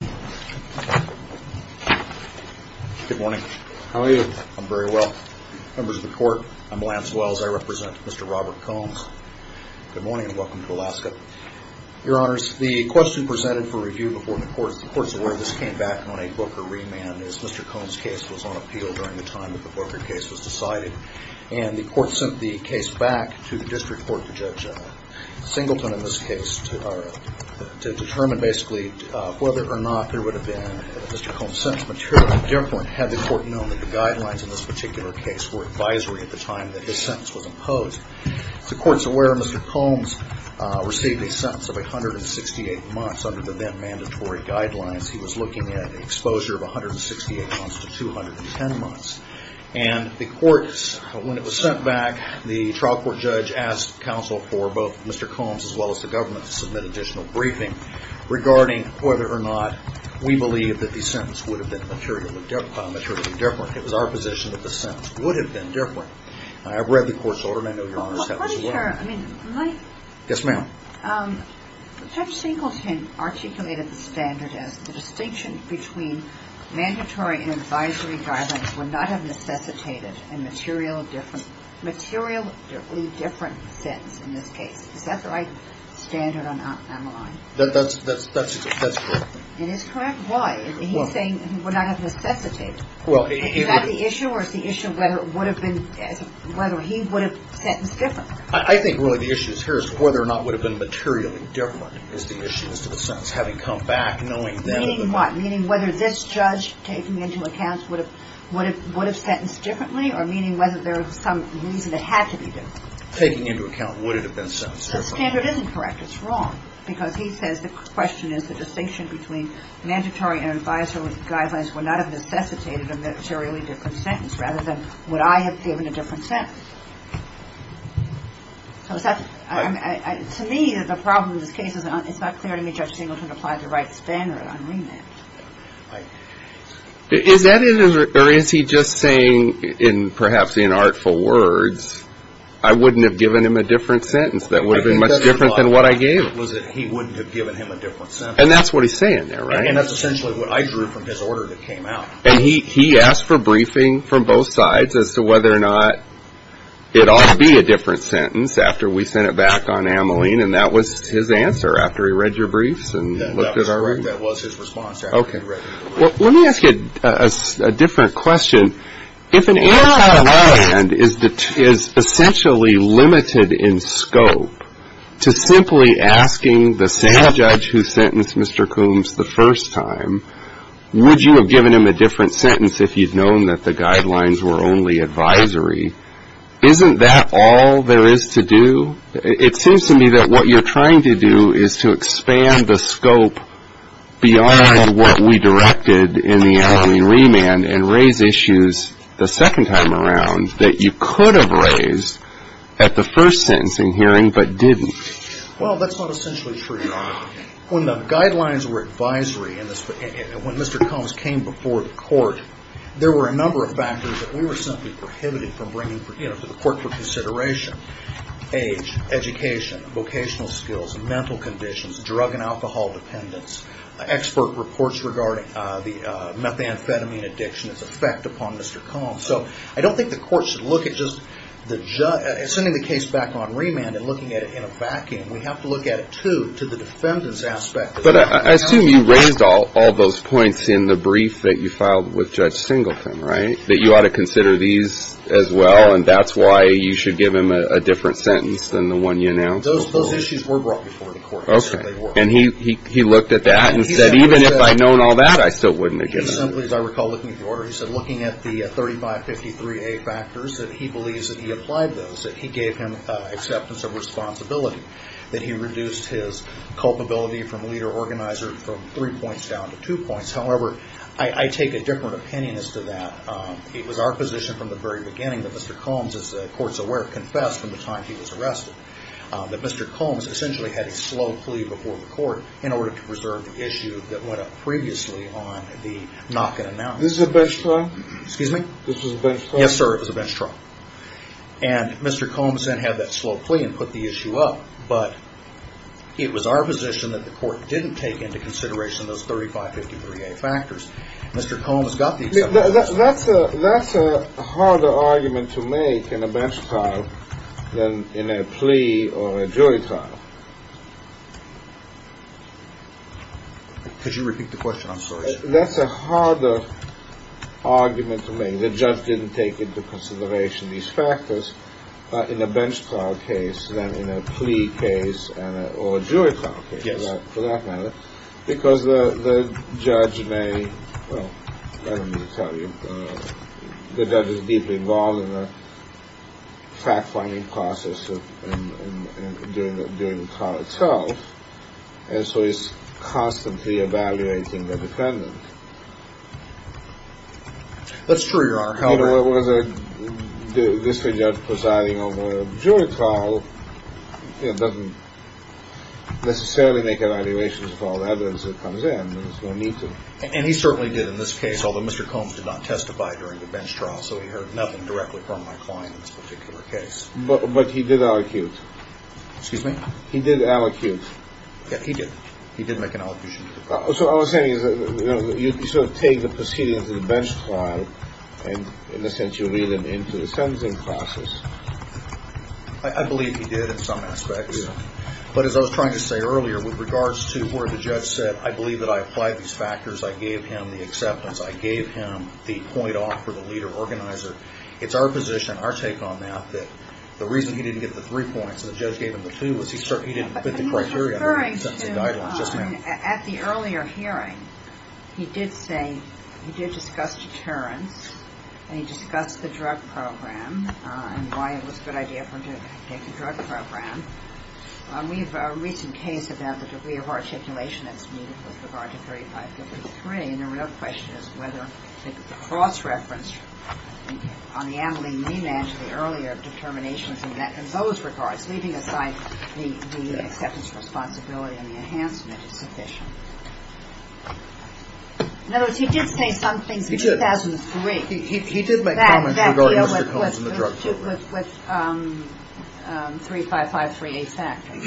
Good morning. How are you? I'm very well. Members of the Court, I'm Lance Wells. I represent Mr. Robert Combs. Good morning and welcome to Alaska. Your Honors, the question presented for review before the Court's award, this came back on a Booker remand as Mr. Combs' case was on appeal during the time that the Booker case was decided. And the Court sent the case back to the District Court to Judge Singleton in this case to determine basically whether or not there would have been a Mr. Combs' sentence material. At no point had the Court known that the guidelines in this particular case were advisory at the time that his sentence was imposed. The Court's aware Mr. Combs received a sentence of 168 months under the then mandatory guidelines. He was looking at exposure of 168 months to 210 months. And the Court, when it was sent back, the trial court judge asked counsel for both Mr. Combs as well as the government to submit additional briefing regarding whether or not we believe that the sentence would have been materially different. It was our position that the sentence would have been different. I have read the Court's order and I know Your Honors have as well. But, Mr. Chairman, my – Yes, ma'am. Judge Singleton articulated the standard as the distinction between mandatory and advisory guidelines would not have necessitated a materially different sentence in this case. Is that the right standard on the line? That's correct. It is correct? Why? He's saying it would not have necessitated. Is that the issue or is the issue of whether it would have been – whether he would have sentenced differently? I think really the issue here is whether or not it would have been materially different is the issue as to the sentence. Having come back, knowing that – Meaning what? Meaning whether this judge taking into account would have sentenced differently or meaning whether there was some reason it had to be different? Taking into account would it have been sentenced differently? The standard isn't correct. It's wrong. Because he says the question is the distinction between mandatory and advisory guidelines would not have necessitated a materially different sentence rather than would I have given a different sentence. So is that – to me the problem in this case is it's not clear to me Judge Singleton applied the right standard on remand. Is that it or is he just saying in perhaps inartful words I wouldn't have given him a different sentence that would have been much different than what I gave him? I think that's what he thought was that he wouldn't have given him a different sentence. And that's what he's saying there, right? And that's essentially what I drew from his order that came out. And he asked for briefing from both sides as to whether or not it ought to be a different sentence after we sent it back on Ameline and that was his answer after he read your briefs and looked at our – That was his response after he had read it. Well, let me ask you a different question. If an answer on remand is essentially limited in scope to simply asking the same judge who sentenced Mr. Coombs the first time, would you have given him a different sentence if you'd known that the guidelines were only advisory? Isn't that all there is to do? It seems to me that what you're trying to do is to expand the scope beyond what we directed in the Ameline remand and raise issues the second time around that you could have raised at the first sentencing hearing but didn't. Well, that's not essentially true, Your Honor. When the guidelines were advisory and when Mr. Coombs came before the court, there were a number of factors that we were simply drug and alcohol dependence, expert reports regarding the methamphetamine addiction, its effect upon Mr. Coombs. So I don't think the court should look at just the – sending the case back on remand and looking at it in a vacuum. We have to look at it, too, to the defendant's aspect. But I assume you raised all those points in the brief that you filed with Judge Singleton, right, that you ought to consider these as well and that's why you should give him a different sentence than the one you announced? Those issues were brought before the court. Okay. And he looked at that and said, even if I'd known all that, I still wouldn't have given it. He simply, as I recall looking at the order, he said looking at the 3553A factors that he believes that he applied those, that he gave him acceptance of responsibility, that he reduced his culpability from leader organizer from three points down to two points. However, I take a different opinion as to that. It was our position from the very beginning that Mr. Combs, as the court's aware, confessed from the time he was arrested that Mr. Combs essentially had a slow plea before the court in order to preserve the issue that went up previously on the knock and announce. This was a bench trial? Excuse me? This was a bench trial? Yes, sir. It was a bench trial. And Mr. Combs then had that slow plea and put the issue up, but it was our position that the court didn't take into consideration those 3553A factors. Mr. Combs got the acceptance. That's a harder argument to make in a bench trial than in a plea or a jury trial. Could you repeat the question? I'm sorry, sir. That's a harder argument to make. The judge didn't take into consideration these factors in a bench trial case than in a plea case or a jury trial case for that matter because the judge may, well, I don't need to tell you, the judge is deeply involved in the fact-finding process during the trial itself, and so he's constantly evaluating the defendant. That's true, Your Honor. However... You know, it was a district judge presiding over a jury trial, you know, doesn't necessarily have to make evaluations of all the evidence that comes in. There's no need to. And he certainly did in this case, although Mr. Combs did not testify during the bench trial, so he heard nothing directly from my client in this particular case. But he did allocute. Excuse me? He did allocute. Yeah, he did. He did make an allocation. So all I'm saying is, you know, you sort of take the proceedings of the bench trial and, in a sense, you read them into the sentencing process. I believe he did in some aspects. Yeah. But as I was trying to say earlier, with regards to where the judge said, I believe that I applied these factors, I gave him the acceptance, I gave him the point off for the leader organizer, it's our position, our take on that, that the reason he didn't get the three points and the judge gave him the two was he didn't fit the criteria for the sentencing guidelines. At the earlier hearing, he did say, he did discuss deterrence, and he discussed the drug program and why it was a good idea for him to take the drug program. We have a recent case about the degree of articulation that's needed with regard to 3553, and the real question is whether the cross-reference on the amylene mean and the earlier determinations in those regards, leaving aside the acceptance responsibility and the enhancement is sufficient. In other words, he did say some things in 2003. He did. He did make comments regarding Mr. Combs and the drug program. With 3553A factors.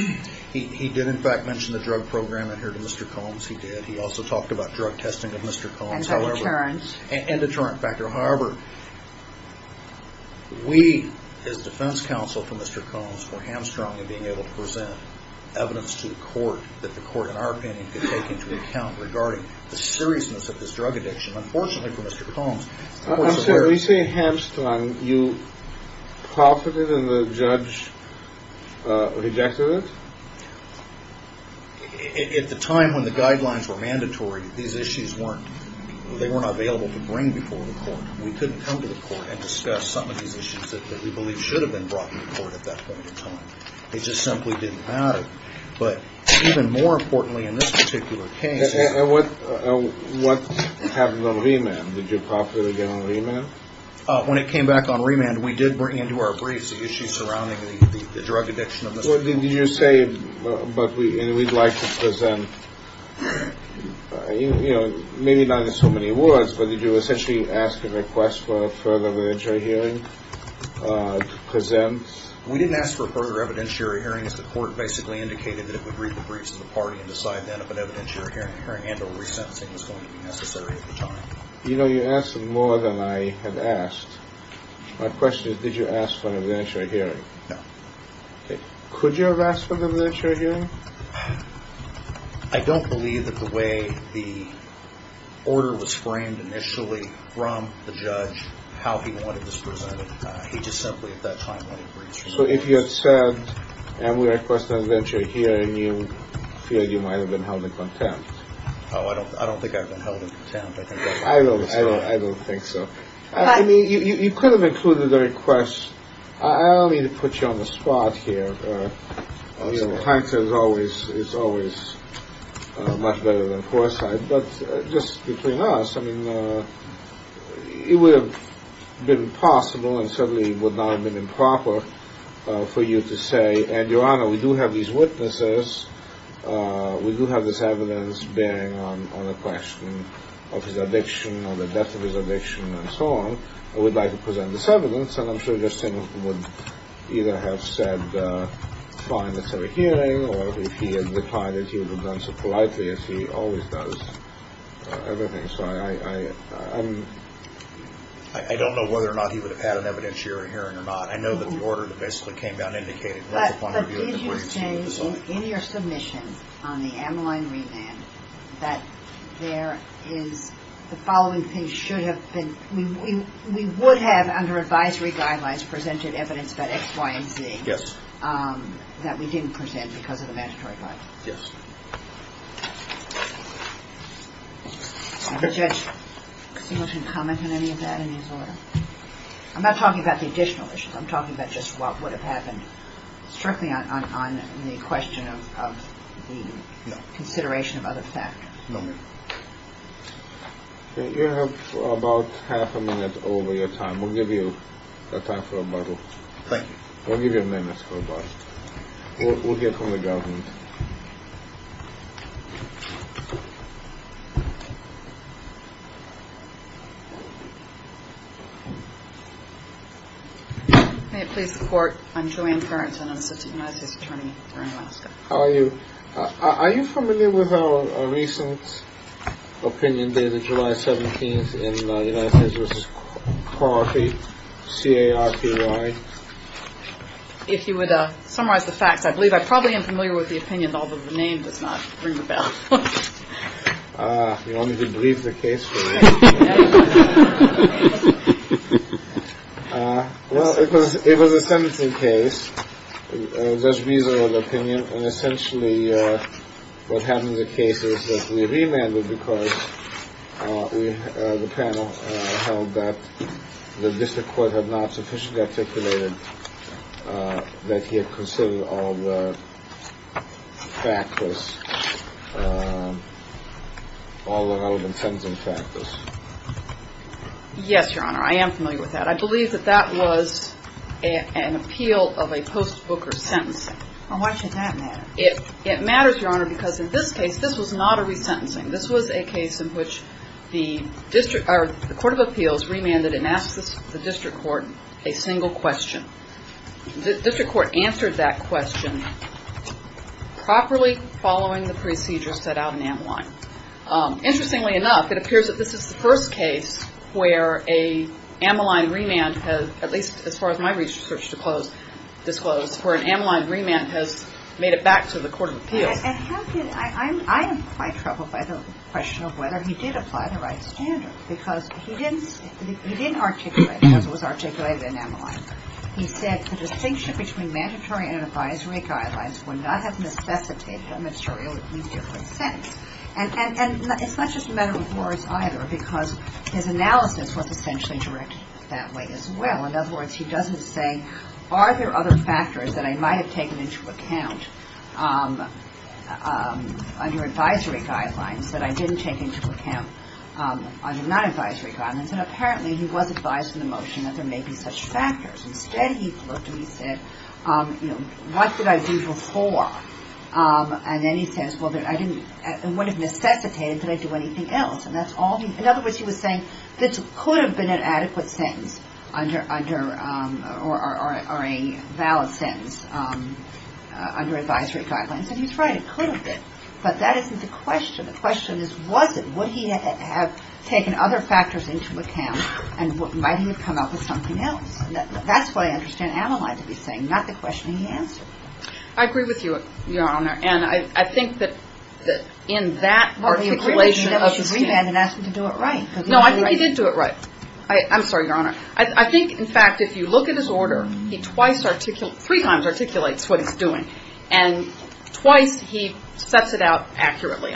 He did, in fact, mention the drug program in here to Mr. Combs. He did. He also talked about drug testing of Mr. Combs. And deterrent. And deterrent factor. However, we, as defense counsel for Mr. Combs, were hamstrung in being able to present evidence to the court that the court, in our opinion, could take into account regarding the seriousness of this drug addiction. Unfortunately for Mr. Combs, the court's aware of it. So when you say hamstrung, you profited and the judge rejected it? At the time when the guidelines were mandatory, these issues weren't, they were not available to bring before the court. We couldn't come to the court and discuss some of these issues that we believe should have been brought to the court at that point in time. It just simply didn't matter. But even more importantly in this particular case. And what happened on remand? Did you profit again on remand? When it came back on remand, we did bring into our briefs the issues surrounding the drug addiction of Mr. Combs. Did you say, but we'd like to present, you know, maybe not in so many words, but did you essentially ask and request for further literature hearing to present? We didn't ask for further evidentiary hearings. The court basically indicated that it would read the briefs of the party and decide then if an evidentiary hearing and or resentencing was going to be necessary at the time. You know, you're asking more than I have asked. My question is, did you ask for an evidentiary hearing? No. Could you have asked for an evidentiary hearing? I don't believe that the way the order was framed initially from the judge, how he wanted this presented, he just simply at that time wanted briefs. So if you had said, and we request an evidentiary hearing, you feel you might have been held in contempt? Oh, I don't think I've been held in contempt. I don't think so. I mean, you could have included the request. I don't mean to put you on the spot here. You know, Hunter is always much better than Forsythe. But just between us, I mean, it would have been possible and certainly would not have been improper for you to say, and Your Honor, we do have these witnesses. We do have this evidence bearing on a question of his addiction or the depth of his addiction and so on. I would like to present this evidence, and I'm sure this thing would either have said I don't know whether or not he would have had an evidentiary hearing or not. I know that the order that basically came down indicated that. But did you say in your submission on the amyloid remand that there is the following thing should have been, we would have under advisory guidelines presented evidence about Y and Z. Yes. That we didn't present because of the mandatory guidelines. Yes. Does the judge seem to want to comment on any of that in his order? I'm not talking about the additional issues. I'm talking about just what would have happened strictly on the question of the consideration of other factors. No. You have about half a minute over your time. We'll give you time for rebuttal. Thank you. We'll give you a minute. We'll get on the government. May it please the court. I'm Joanne Perrins and I'm an assistant United States attorney here in Alaska. How are you? Are you familiar with a recent opinion dated July 17th in the United States? If you would summarize the facts, I believe I probably am familiar with the opinion, although the name does not ring a bell. You want me to brief the case? It was a sentencing case. Essentially, what happened in the case is that we remanded because the panel held that the district court had not sufficiently articulated that he had considered all the factors, all the relevant sentencing factors. Yes, Your Honor. I am familiar with that. I believe that that was an appeal of a post-Booker sentencing. Why should that matter? It matters, Your Honor, because in this case, this was not a resentencing. This was a case in which the court of appeals remanded and asked the district court a single question. The district court answered that question properly following the procedure set out in Ammaline. Interestingly enough, it appears that this is the first case where an Ammaline remand has, at least as far as my research disclosed, where an Ammaline remand has made it back to the court of appeals. I am quite troubled by the question of whether he did apply the right standard, because he didn't articulate it as it was articulated in Ammaline. He said the distinction between mandatory and advisory guidelines would not have necessitated a mandatory or at least different sentence. And it's not just a matter of words either, because his analysis was essentially directed that way as well. In other words, he doesn't say, are there other factors that I might have taken into account under advisory guidelines that I didn't take into account under non-advisory guidelines? And apparently he was advised in the motion that there may be such factors. Instead he looked and he said, what did I do before? And then he says, well, it wouldn't have necessitated that I do anything else. In other words, he was saying this could have been an adequate sentence or a valid sentence under advisory guidelines. And he's right, it could have been. But that isn't the question. The question is, was it? Would he have taken other factors into account? And might he have come up with something else? That's what I understand Ammaline to be saying, not the question he answered. I agree with you, Your Honor. And I think that in that articulation of the statement. What were you criticizing him as his remand and asking him to do it right? No, I think he did do it right. I'm sorry, Your Honor. I think, in fact, if you look at his order, he twice, three times articulates what he's doing. And twice he sets it out accurately.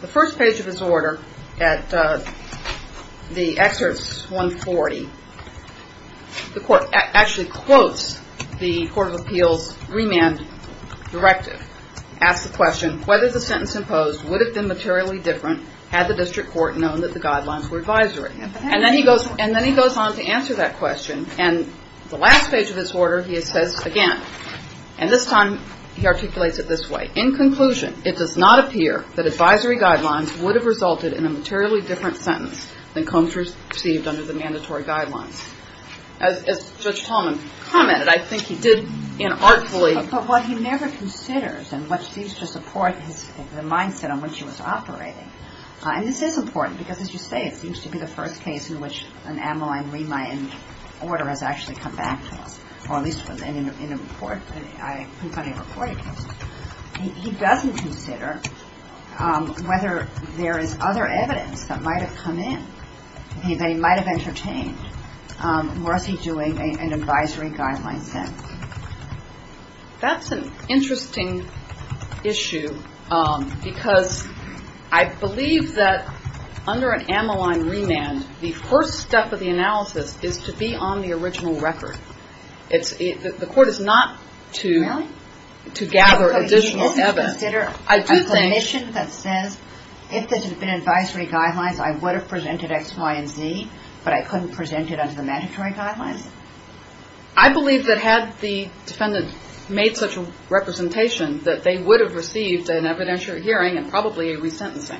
The first page of his order at the excerpt 140, the court actually quotes the Court of Appeals remand directive. Asks the question, whether the sentence imposed would have been materially different had the district court known that the guidelines were advisory. And then he goes on to answer that question. And the last page of his order he says again, and this time he articulates it this way. In conclusion, it does not appear that advisory guidelines would have resulted in a materially different sentence than Combs received under the mandatory guidelines. As Judge Tallman commented, I think he did inartfully. But what he never considers and what seems to support the mindset on which he was operating, and this is important because, as you say, it seems to be the first case in which an Ammaline remand order has actually come back to us, or at least was in a report, I think on a reported case. He doesn't consider whether there is other evidence that might have come in, that he might have entertained, or is he doing an advisory guideline sentence. That's an interesting issue because I believe that under an Ammaline remand, the first step of the analysis is to be on the original record. The court is not to gather additional evidence. I do think. If there had been advisory guidelines, I would have presented X, Y, and Z, but I couldn't present it under the mandatory guidelines? I believe that had the defendant made such a representation, that they would have received an evidentiary hearing and probably a resentencing.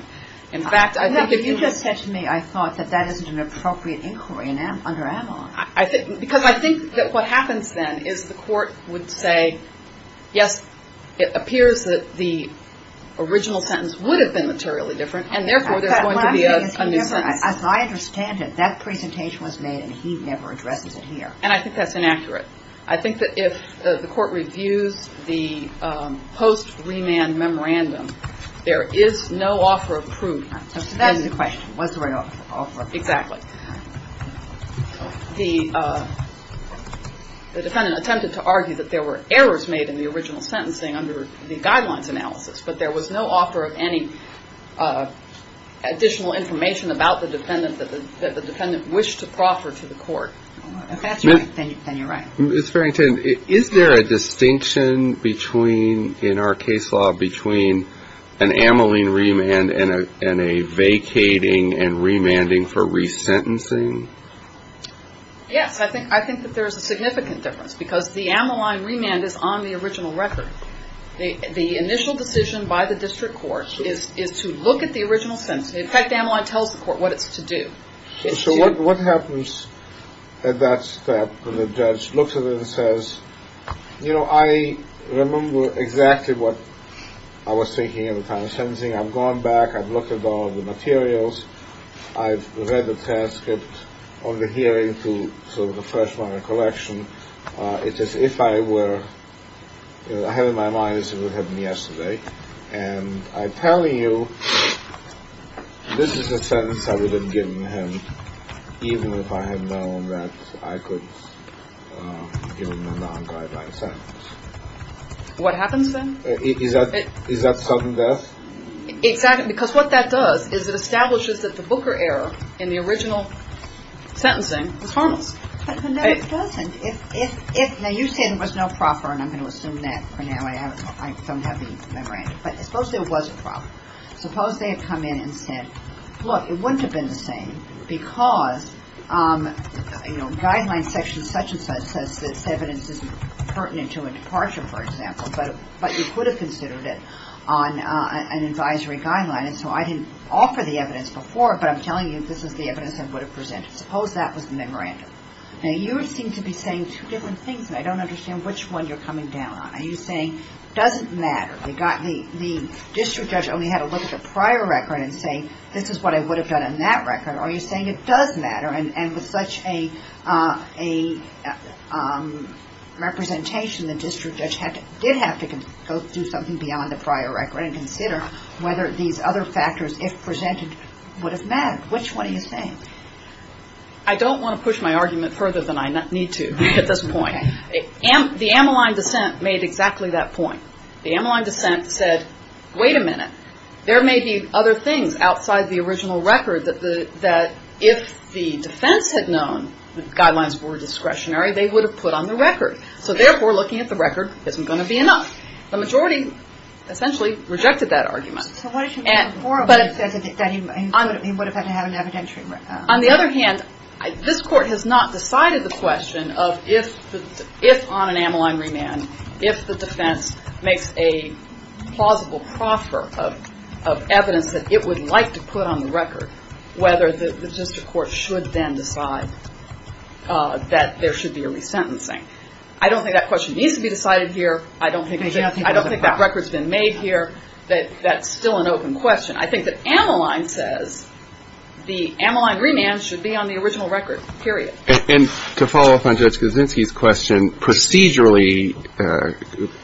In fact, I think if you just said to me I thought that that isn't an appropriate inquiry under Ammaline. Because I think that what happens then is the court would say, yes, it appears that the original sentence would have been materially different, and therefore there's going to be a new sentence. As I understand it, that presentation was made and he never addresses it here. And I think that's inaccurate. I think that if the court reviews the post-remand memorandum, there is no offer of proof. That's the question. What's the right offer? Exactly. The defendant attempted to argue that there were errors made in the original sentencing under the guidelines analysis, but there was no offer of any additional information about the defendant that the defendant wished to proffer to the court. If that's right, then you're right. Ms. Farrington, is there a distinction between, in our case law, between an Ammaline remand and a vacating and remanding for resentencing? Yes. I think that there is a significant difference because the Ammaline remand is on the original record. The initial decision by the district court is to look at the original sentence. In fact, Ammaline tells the court what it's to do. So what happens at that step when the judge looks at it and says, you know, I remember exactly what I was thinking at the time of sentencing. I've gone back. I've looked at all of the materials. I've read the transcript of the hearing to sort of the Freshman and Collection. It is if I were ahead of my mind as it would have been yesterday. And I tell you, this is a sentence I would have given him even if I had known that I could give him a non-guideline sentence. What happens then? Is that sudden death? Exactly. Because what that does is it establishes that the Booker error in the original sentencing was harmless. No, it doesn't. Now, you said it was not proper, and I'm going to assume that for now. I don't have the memorandum. But suppose there was a problem. Suppose they had come in and said, look, it wouldn't have been the same because, you know, guideline section such and such says this evidence isn't pertinent to a departure, for example, but you could have considered it on an advisory guideline. And so I didn't offer the evidence before, but I'm telling you this is the evidence I would have presented. Suppose that was the memorandum. Now, you seem to be saying two different things, and I don't understand which one you're coming down on. Are you saying it doesn't matter? The district judge only had a look at the prior record and say, this is what I would have done on that record. Are you saying it does matter? And with such a representation, the district judge did have to go through something beyond the prior record and consider whether these other factors, if presented, would have mattered. Which one are you saying? I don't want to push my argument further than I need to at this point. The Ammaline dissent made exactly that point. The Ammaline dissent said, wait a minute, there may be other things outside the original record that if the defense had known the guidelines were discretionary, they would have put on the record. So therefore, looking at the record isn't going to be enough. The majority essentially rejected that argument. On the other hand, this court has not decided the question of if on an Ammaline remand, if the defense makes a plausible proffer of evidence that it would like to put on the record, whether the district court should then decide that there should be a resentencing. I don't think that question needs to be decided here. I don't think that record's been made here. That's still an open question. I think that Ammaline says the Ammaline remand should be on the original record, period. And to follow up on Judge Kuczynski's question, procedurally,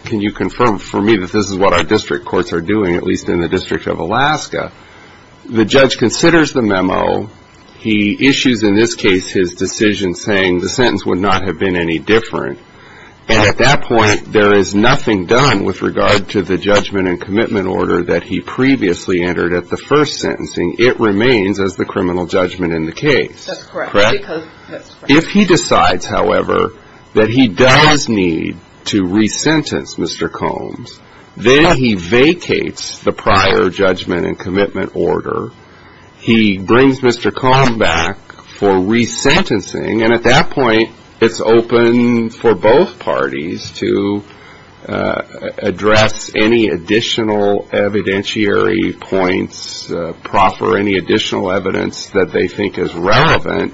can you confirm for me that this is what our district courts are doing, at least in the District of Alaska? The judge considers the memo. He issues, in this case, his decision saying the sentence would not have been any different. And at that point, there is nothing done with regard to the judgment and commitment order that he previously entered at the first sentencing. It remains as the criminal judgment in the case. That's correct. If he decides, however, that he does need to resentence Mr. Combs, then he vacates the prior judgment and commitment order. He brings Mr. Combs back for resentencing. And at that point, it's open for both parties to address any additional evidentiary points, proffer any additional evidence that they think is relevant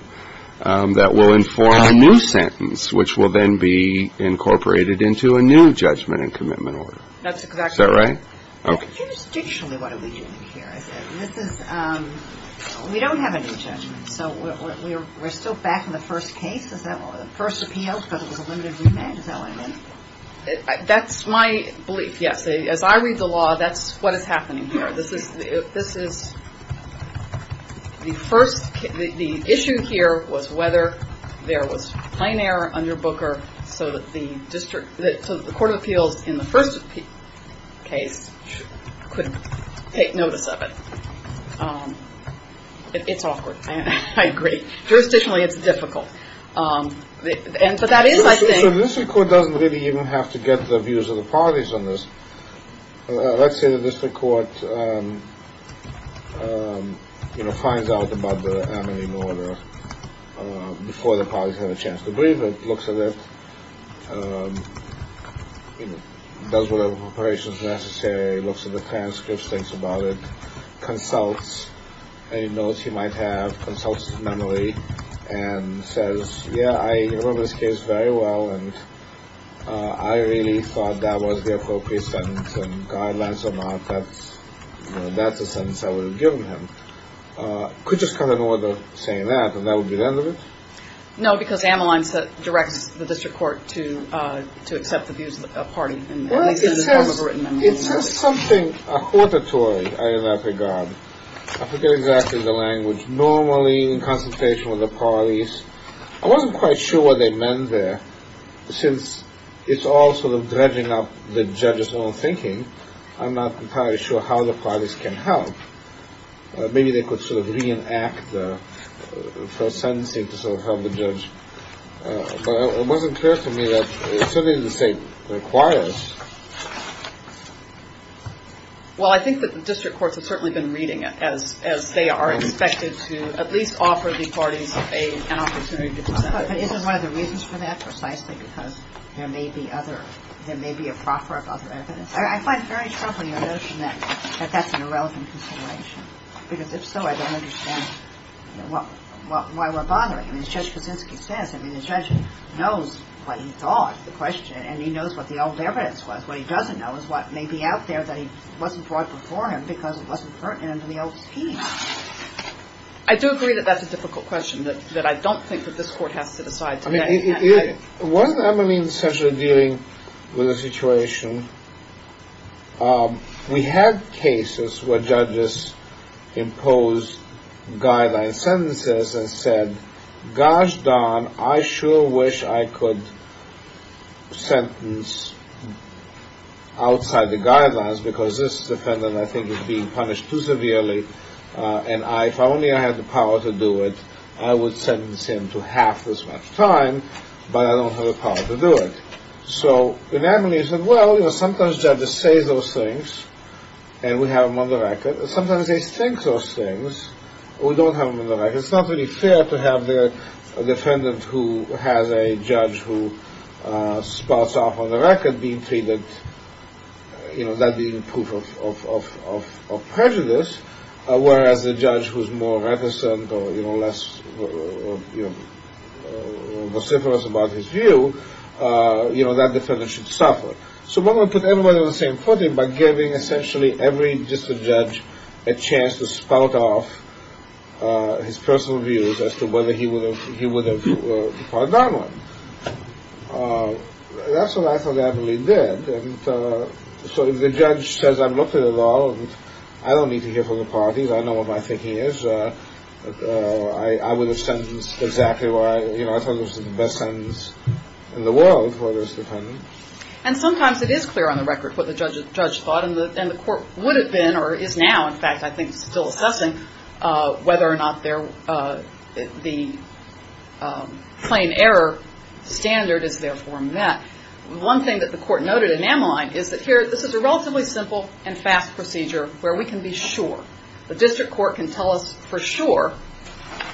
that will inform a new sentence, which will then be incorporated into a new judgment and commitment order. That's exactly right. Is that right? Okay. Judicially, what are we doing here? We don't have a new judgment. So we're still back in the first case, the first appeal, but it was a limited remand? Is that what I meant? That's my belief, yes. As I read the law, that's what is happening here. The issue here was whether there was plain error under Booker so that the court of appeals in the first case couldn't take notice of it. It's awkward. I agree. Jurisdictionally, it's difficult. But that is my thing. So the district court doesn't really even have to get the views of the parties on this. Let's say the district court, you know, finds out about the amending order before the parties have a chance to breathe it, looks at it, does whatever preparations necessary, looks at the transcripts, thinks about it, consults any notes he might have, consults mentally, and says, yeah, I remember this case very well, and I really thought that was the appropriate sentence and guidelines or not, that's a sentence I would have given him. Could just cut an order saying that, and that would be the end of it? No, because Amaline directs the district court to accept the views of the party. It says something, I forgot. I forget exactly the language. Normally in consultation with the parties, I wasn't quite sure what they meant there. Since it's all sort of dredging up the judge's own thinking, I'm not entirely sure how the parties can help. Maybe they could sort of reenact the first sentencing to sort of help the judge. But it wasn't clear to me that certainly the state requires. Well, I think that the district courts have certainly been reading it, as they are expected to at least offer the parties an opportunity to defend. But isn't one of the reasons for that precisely because there may be other, there may be a proffer of other evidence? I find very troubling the notion that that's an irrelevant consideration. Because if so, I don't understand why we're bothering. I mean, Judge Kuczynski says, I mean, the judge knows what he thought, the question, and he knows what the old evidence was. What he doesn't know is what may be out there that he wasn't brought before him because it wasn't pertinent to the old scheme. I do agree that that's a difficult question, that I don't think that this court has to decide. I mean, wasn't Emmeline essentially dealing with a situation? We had cases where judges imposed guideline sentences and said, gosh darn, I sure wish I could sentence outside the guidelines because this defendant, I think, is being punished too severely, and if only I had the power to do it, I would sentence him to half as much time, but I don't have the power to do it. So Emmeline said, well, sometimes judges say those things, and we have them on the record. Sometimes they think those things, but we don't have them on the record. It's not really fair to have a defendant who has a judge who spots off on the record being treated, that being proof of prejudice, whereas a judge who's more reticent or less vociferous about his view, that defendant should suffer. So why don't we put everybody on the same footing by giving essentially every district judge a chance to spout off his personal views as to whether he would have filed that one? That's what I thought Emmeline did. So if the judge says I've looked at it all, I don't need to hear from the parties. I know what my thinking is. I would have sentenced exactly where I thought was the best sentence in the world for this defendant. And sometimes it is clear on the record what the judge thought, and the court would have been or is now, in fact, I think, still assessing whether or not the plain error standard is therefore met. One thing that the court noted in Emmeline is that here this is a relatively simple and fast procedure where we can be sure. The district court can tell us for sure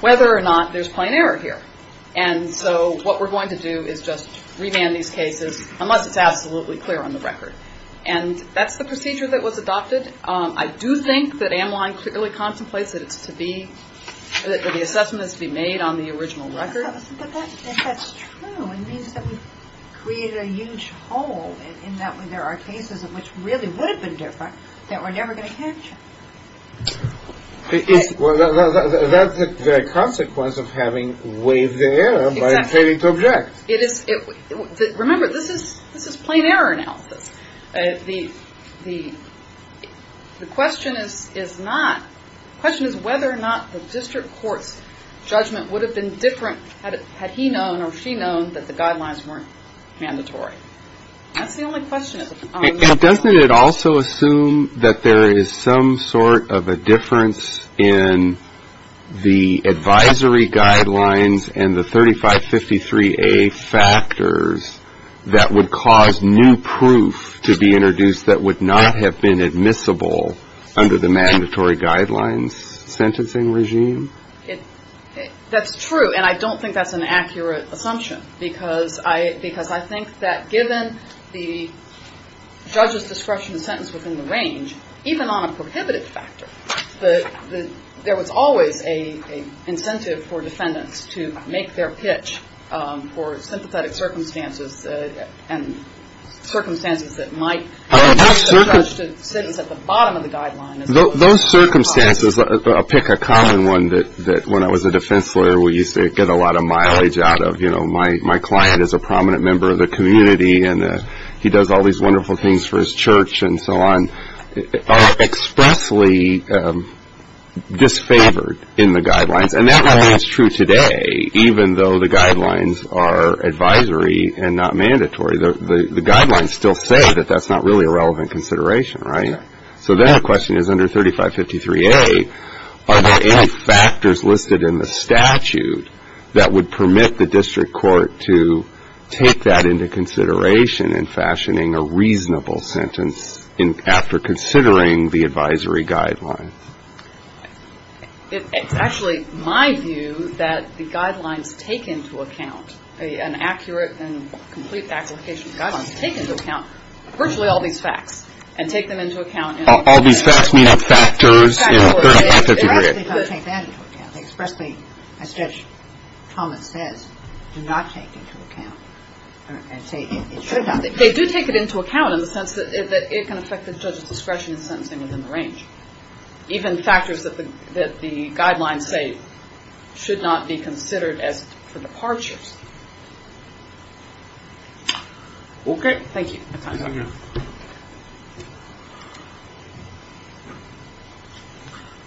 whether or not there's plain error here. And so what we're going to do is just remand these cases unless it's absolutely clear on the record. And that's the procedure that was adopted. I do think that Emmeline clearly contemplates that it's to be, that the assessment is to be made on the original record. But that's true. It means that we've created a huge hole in that there are cases in which really would have been different that we're never going to catch. Well, that's the consequence of having waived the error by failing to object. Remember, this is plain error analysis. The question is whether or not the district court's judgment would have been different had he known or she known that the guidelines weren't mandatory. That's the only question. Doesn't it also assume that there is some sort of a difference in the advisory guidelines and the 3553A factors that would cause new proof to be introduced that would not have been admissible under the mandatory guidelines sentencing regime? That's true. And I don't think that's an accurate assumption because I think that given the judge's discretion to sentence within the range, even on a prohibitive factor, there was always an incentive for defendants to make their pitch for sympathetic circumstances and circumstances that might cause the judge to sentence at the bottom of the guideline. Those circumstances, I'll pick a common one that when I was a defense lawyer, we used to get a lot of mileage out of. My client is a prominent member of the community, and he does all these wonderful things for his church and so on, are expressly disfavored in the guidelines. And that really is true today, even though the guidelines are advisory and not mandatory. The guidelines still say that that's not really a relevant consideration, right? So then the question is, under 3553A, are there any factors listed in the statute that would permit the district court to take that into consideration in fashioning a reasonable sentence after considering the advisory guidelines? It's actually my view that the guidelines take into account, an accurate and complete application of the guidelines, take into account virtually all these facts and take them into account in the statute. All these facts mean factors in 3553A. They expressly don't take that into account. They expressly, as Judge Thomas says, do not take it into account. They do take it into account in the sense that it can affect the judge's discretion in sentencing within the range. Even factors that the guidelines say should not be considered as for departures. Okay. Thank you.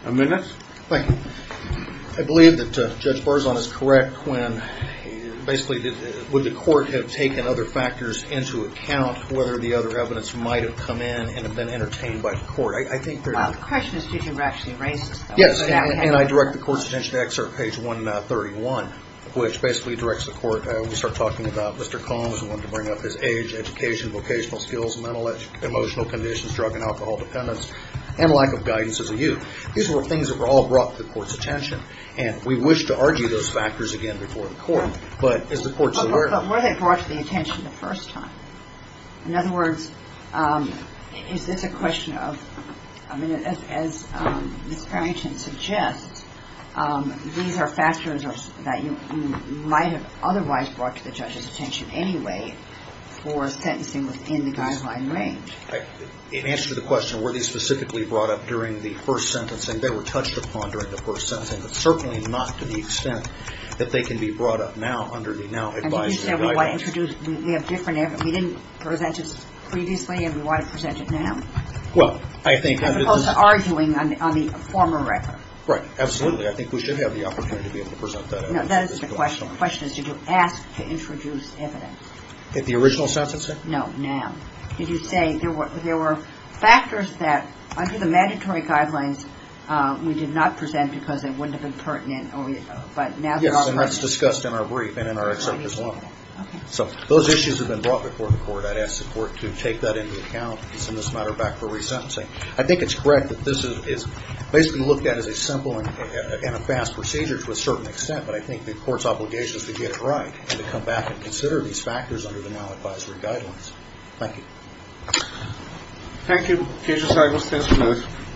I believe that Judge Barzon is correct when, basically, would the court have taken other factors into account, whether the other evidence might have come in and have been entertained by the court? The question is, did you actually raise this? Yes. And I direct the court's attention to excerpt page 131, which basically directs the court. These were things that were all brought to the court's attention. And we wish to argue those factors again before the court. But is the court so aware of them? But were they brought to the attention the first time? In other words, is this a question of, I mean, as Ms. Barrington suggests, these are factors that you might have otherwise not raised. But are they brought to the judge's attention anyway for sentencing within the guideline range? In answer to the question, were they specifically brought up during the first sentencing, they were touched upon during the first sentencing. But certainly not to the extent that they can be brought up now under the now-advised guidelines. And didn't you say we want to introduce, we have different evidence. We didn't present this previously and we want to present it now. Well, I think that is. As opposed to arguing on the former record. Right. Absolutely. I think we should have the opportunity to be able to present that evidence. No, that is the question. The question is, did you ask to introduce evidence? At the original sentencing? No, now. Did you say there were factors that under the mandatory guidelines we did not present because they wouldn't have been pertinent? Yes, and that's discussed in our brief and in our excerpt as well. So those issues have been brought before the court. I'd ask the court to take that into account and send this matter back for resentencing. I think it's correct that this is basically looked at as a simple and a fast procedure to a certain extent. But I think the court's obligation is to get it right and to come back and consider these factors under the now-advisory guidelines. Thank you. Thank you. KJ Seidlis. Thanks for this.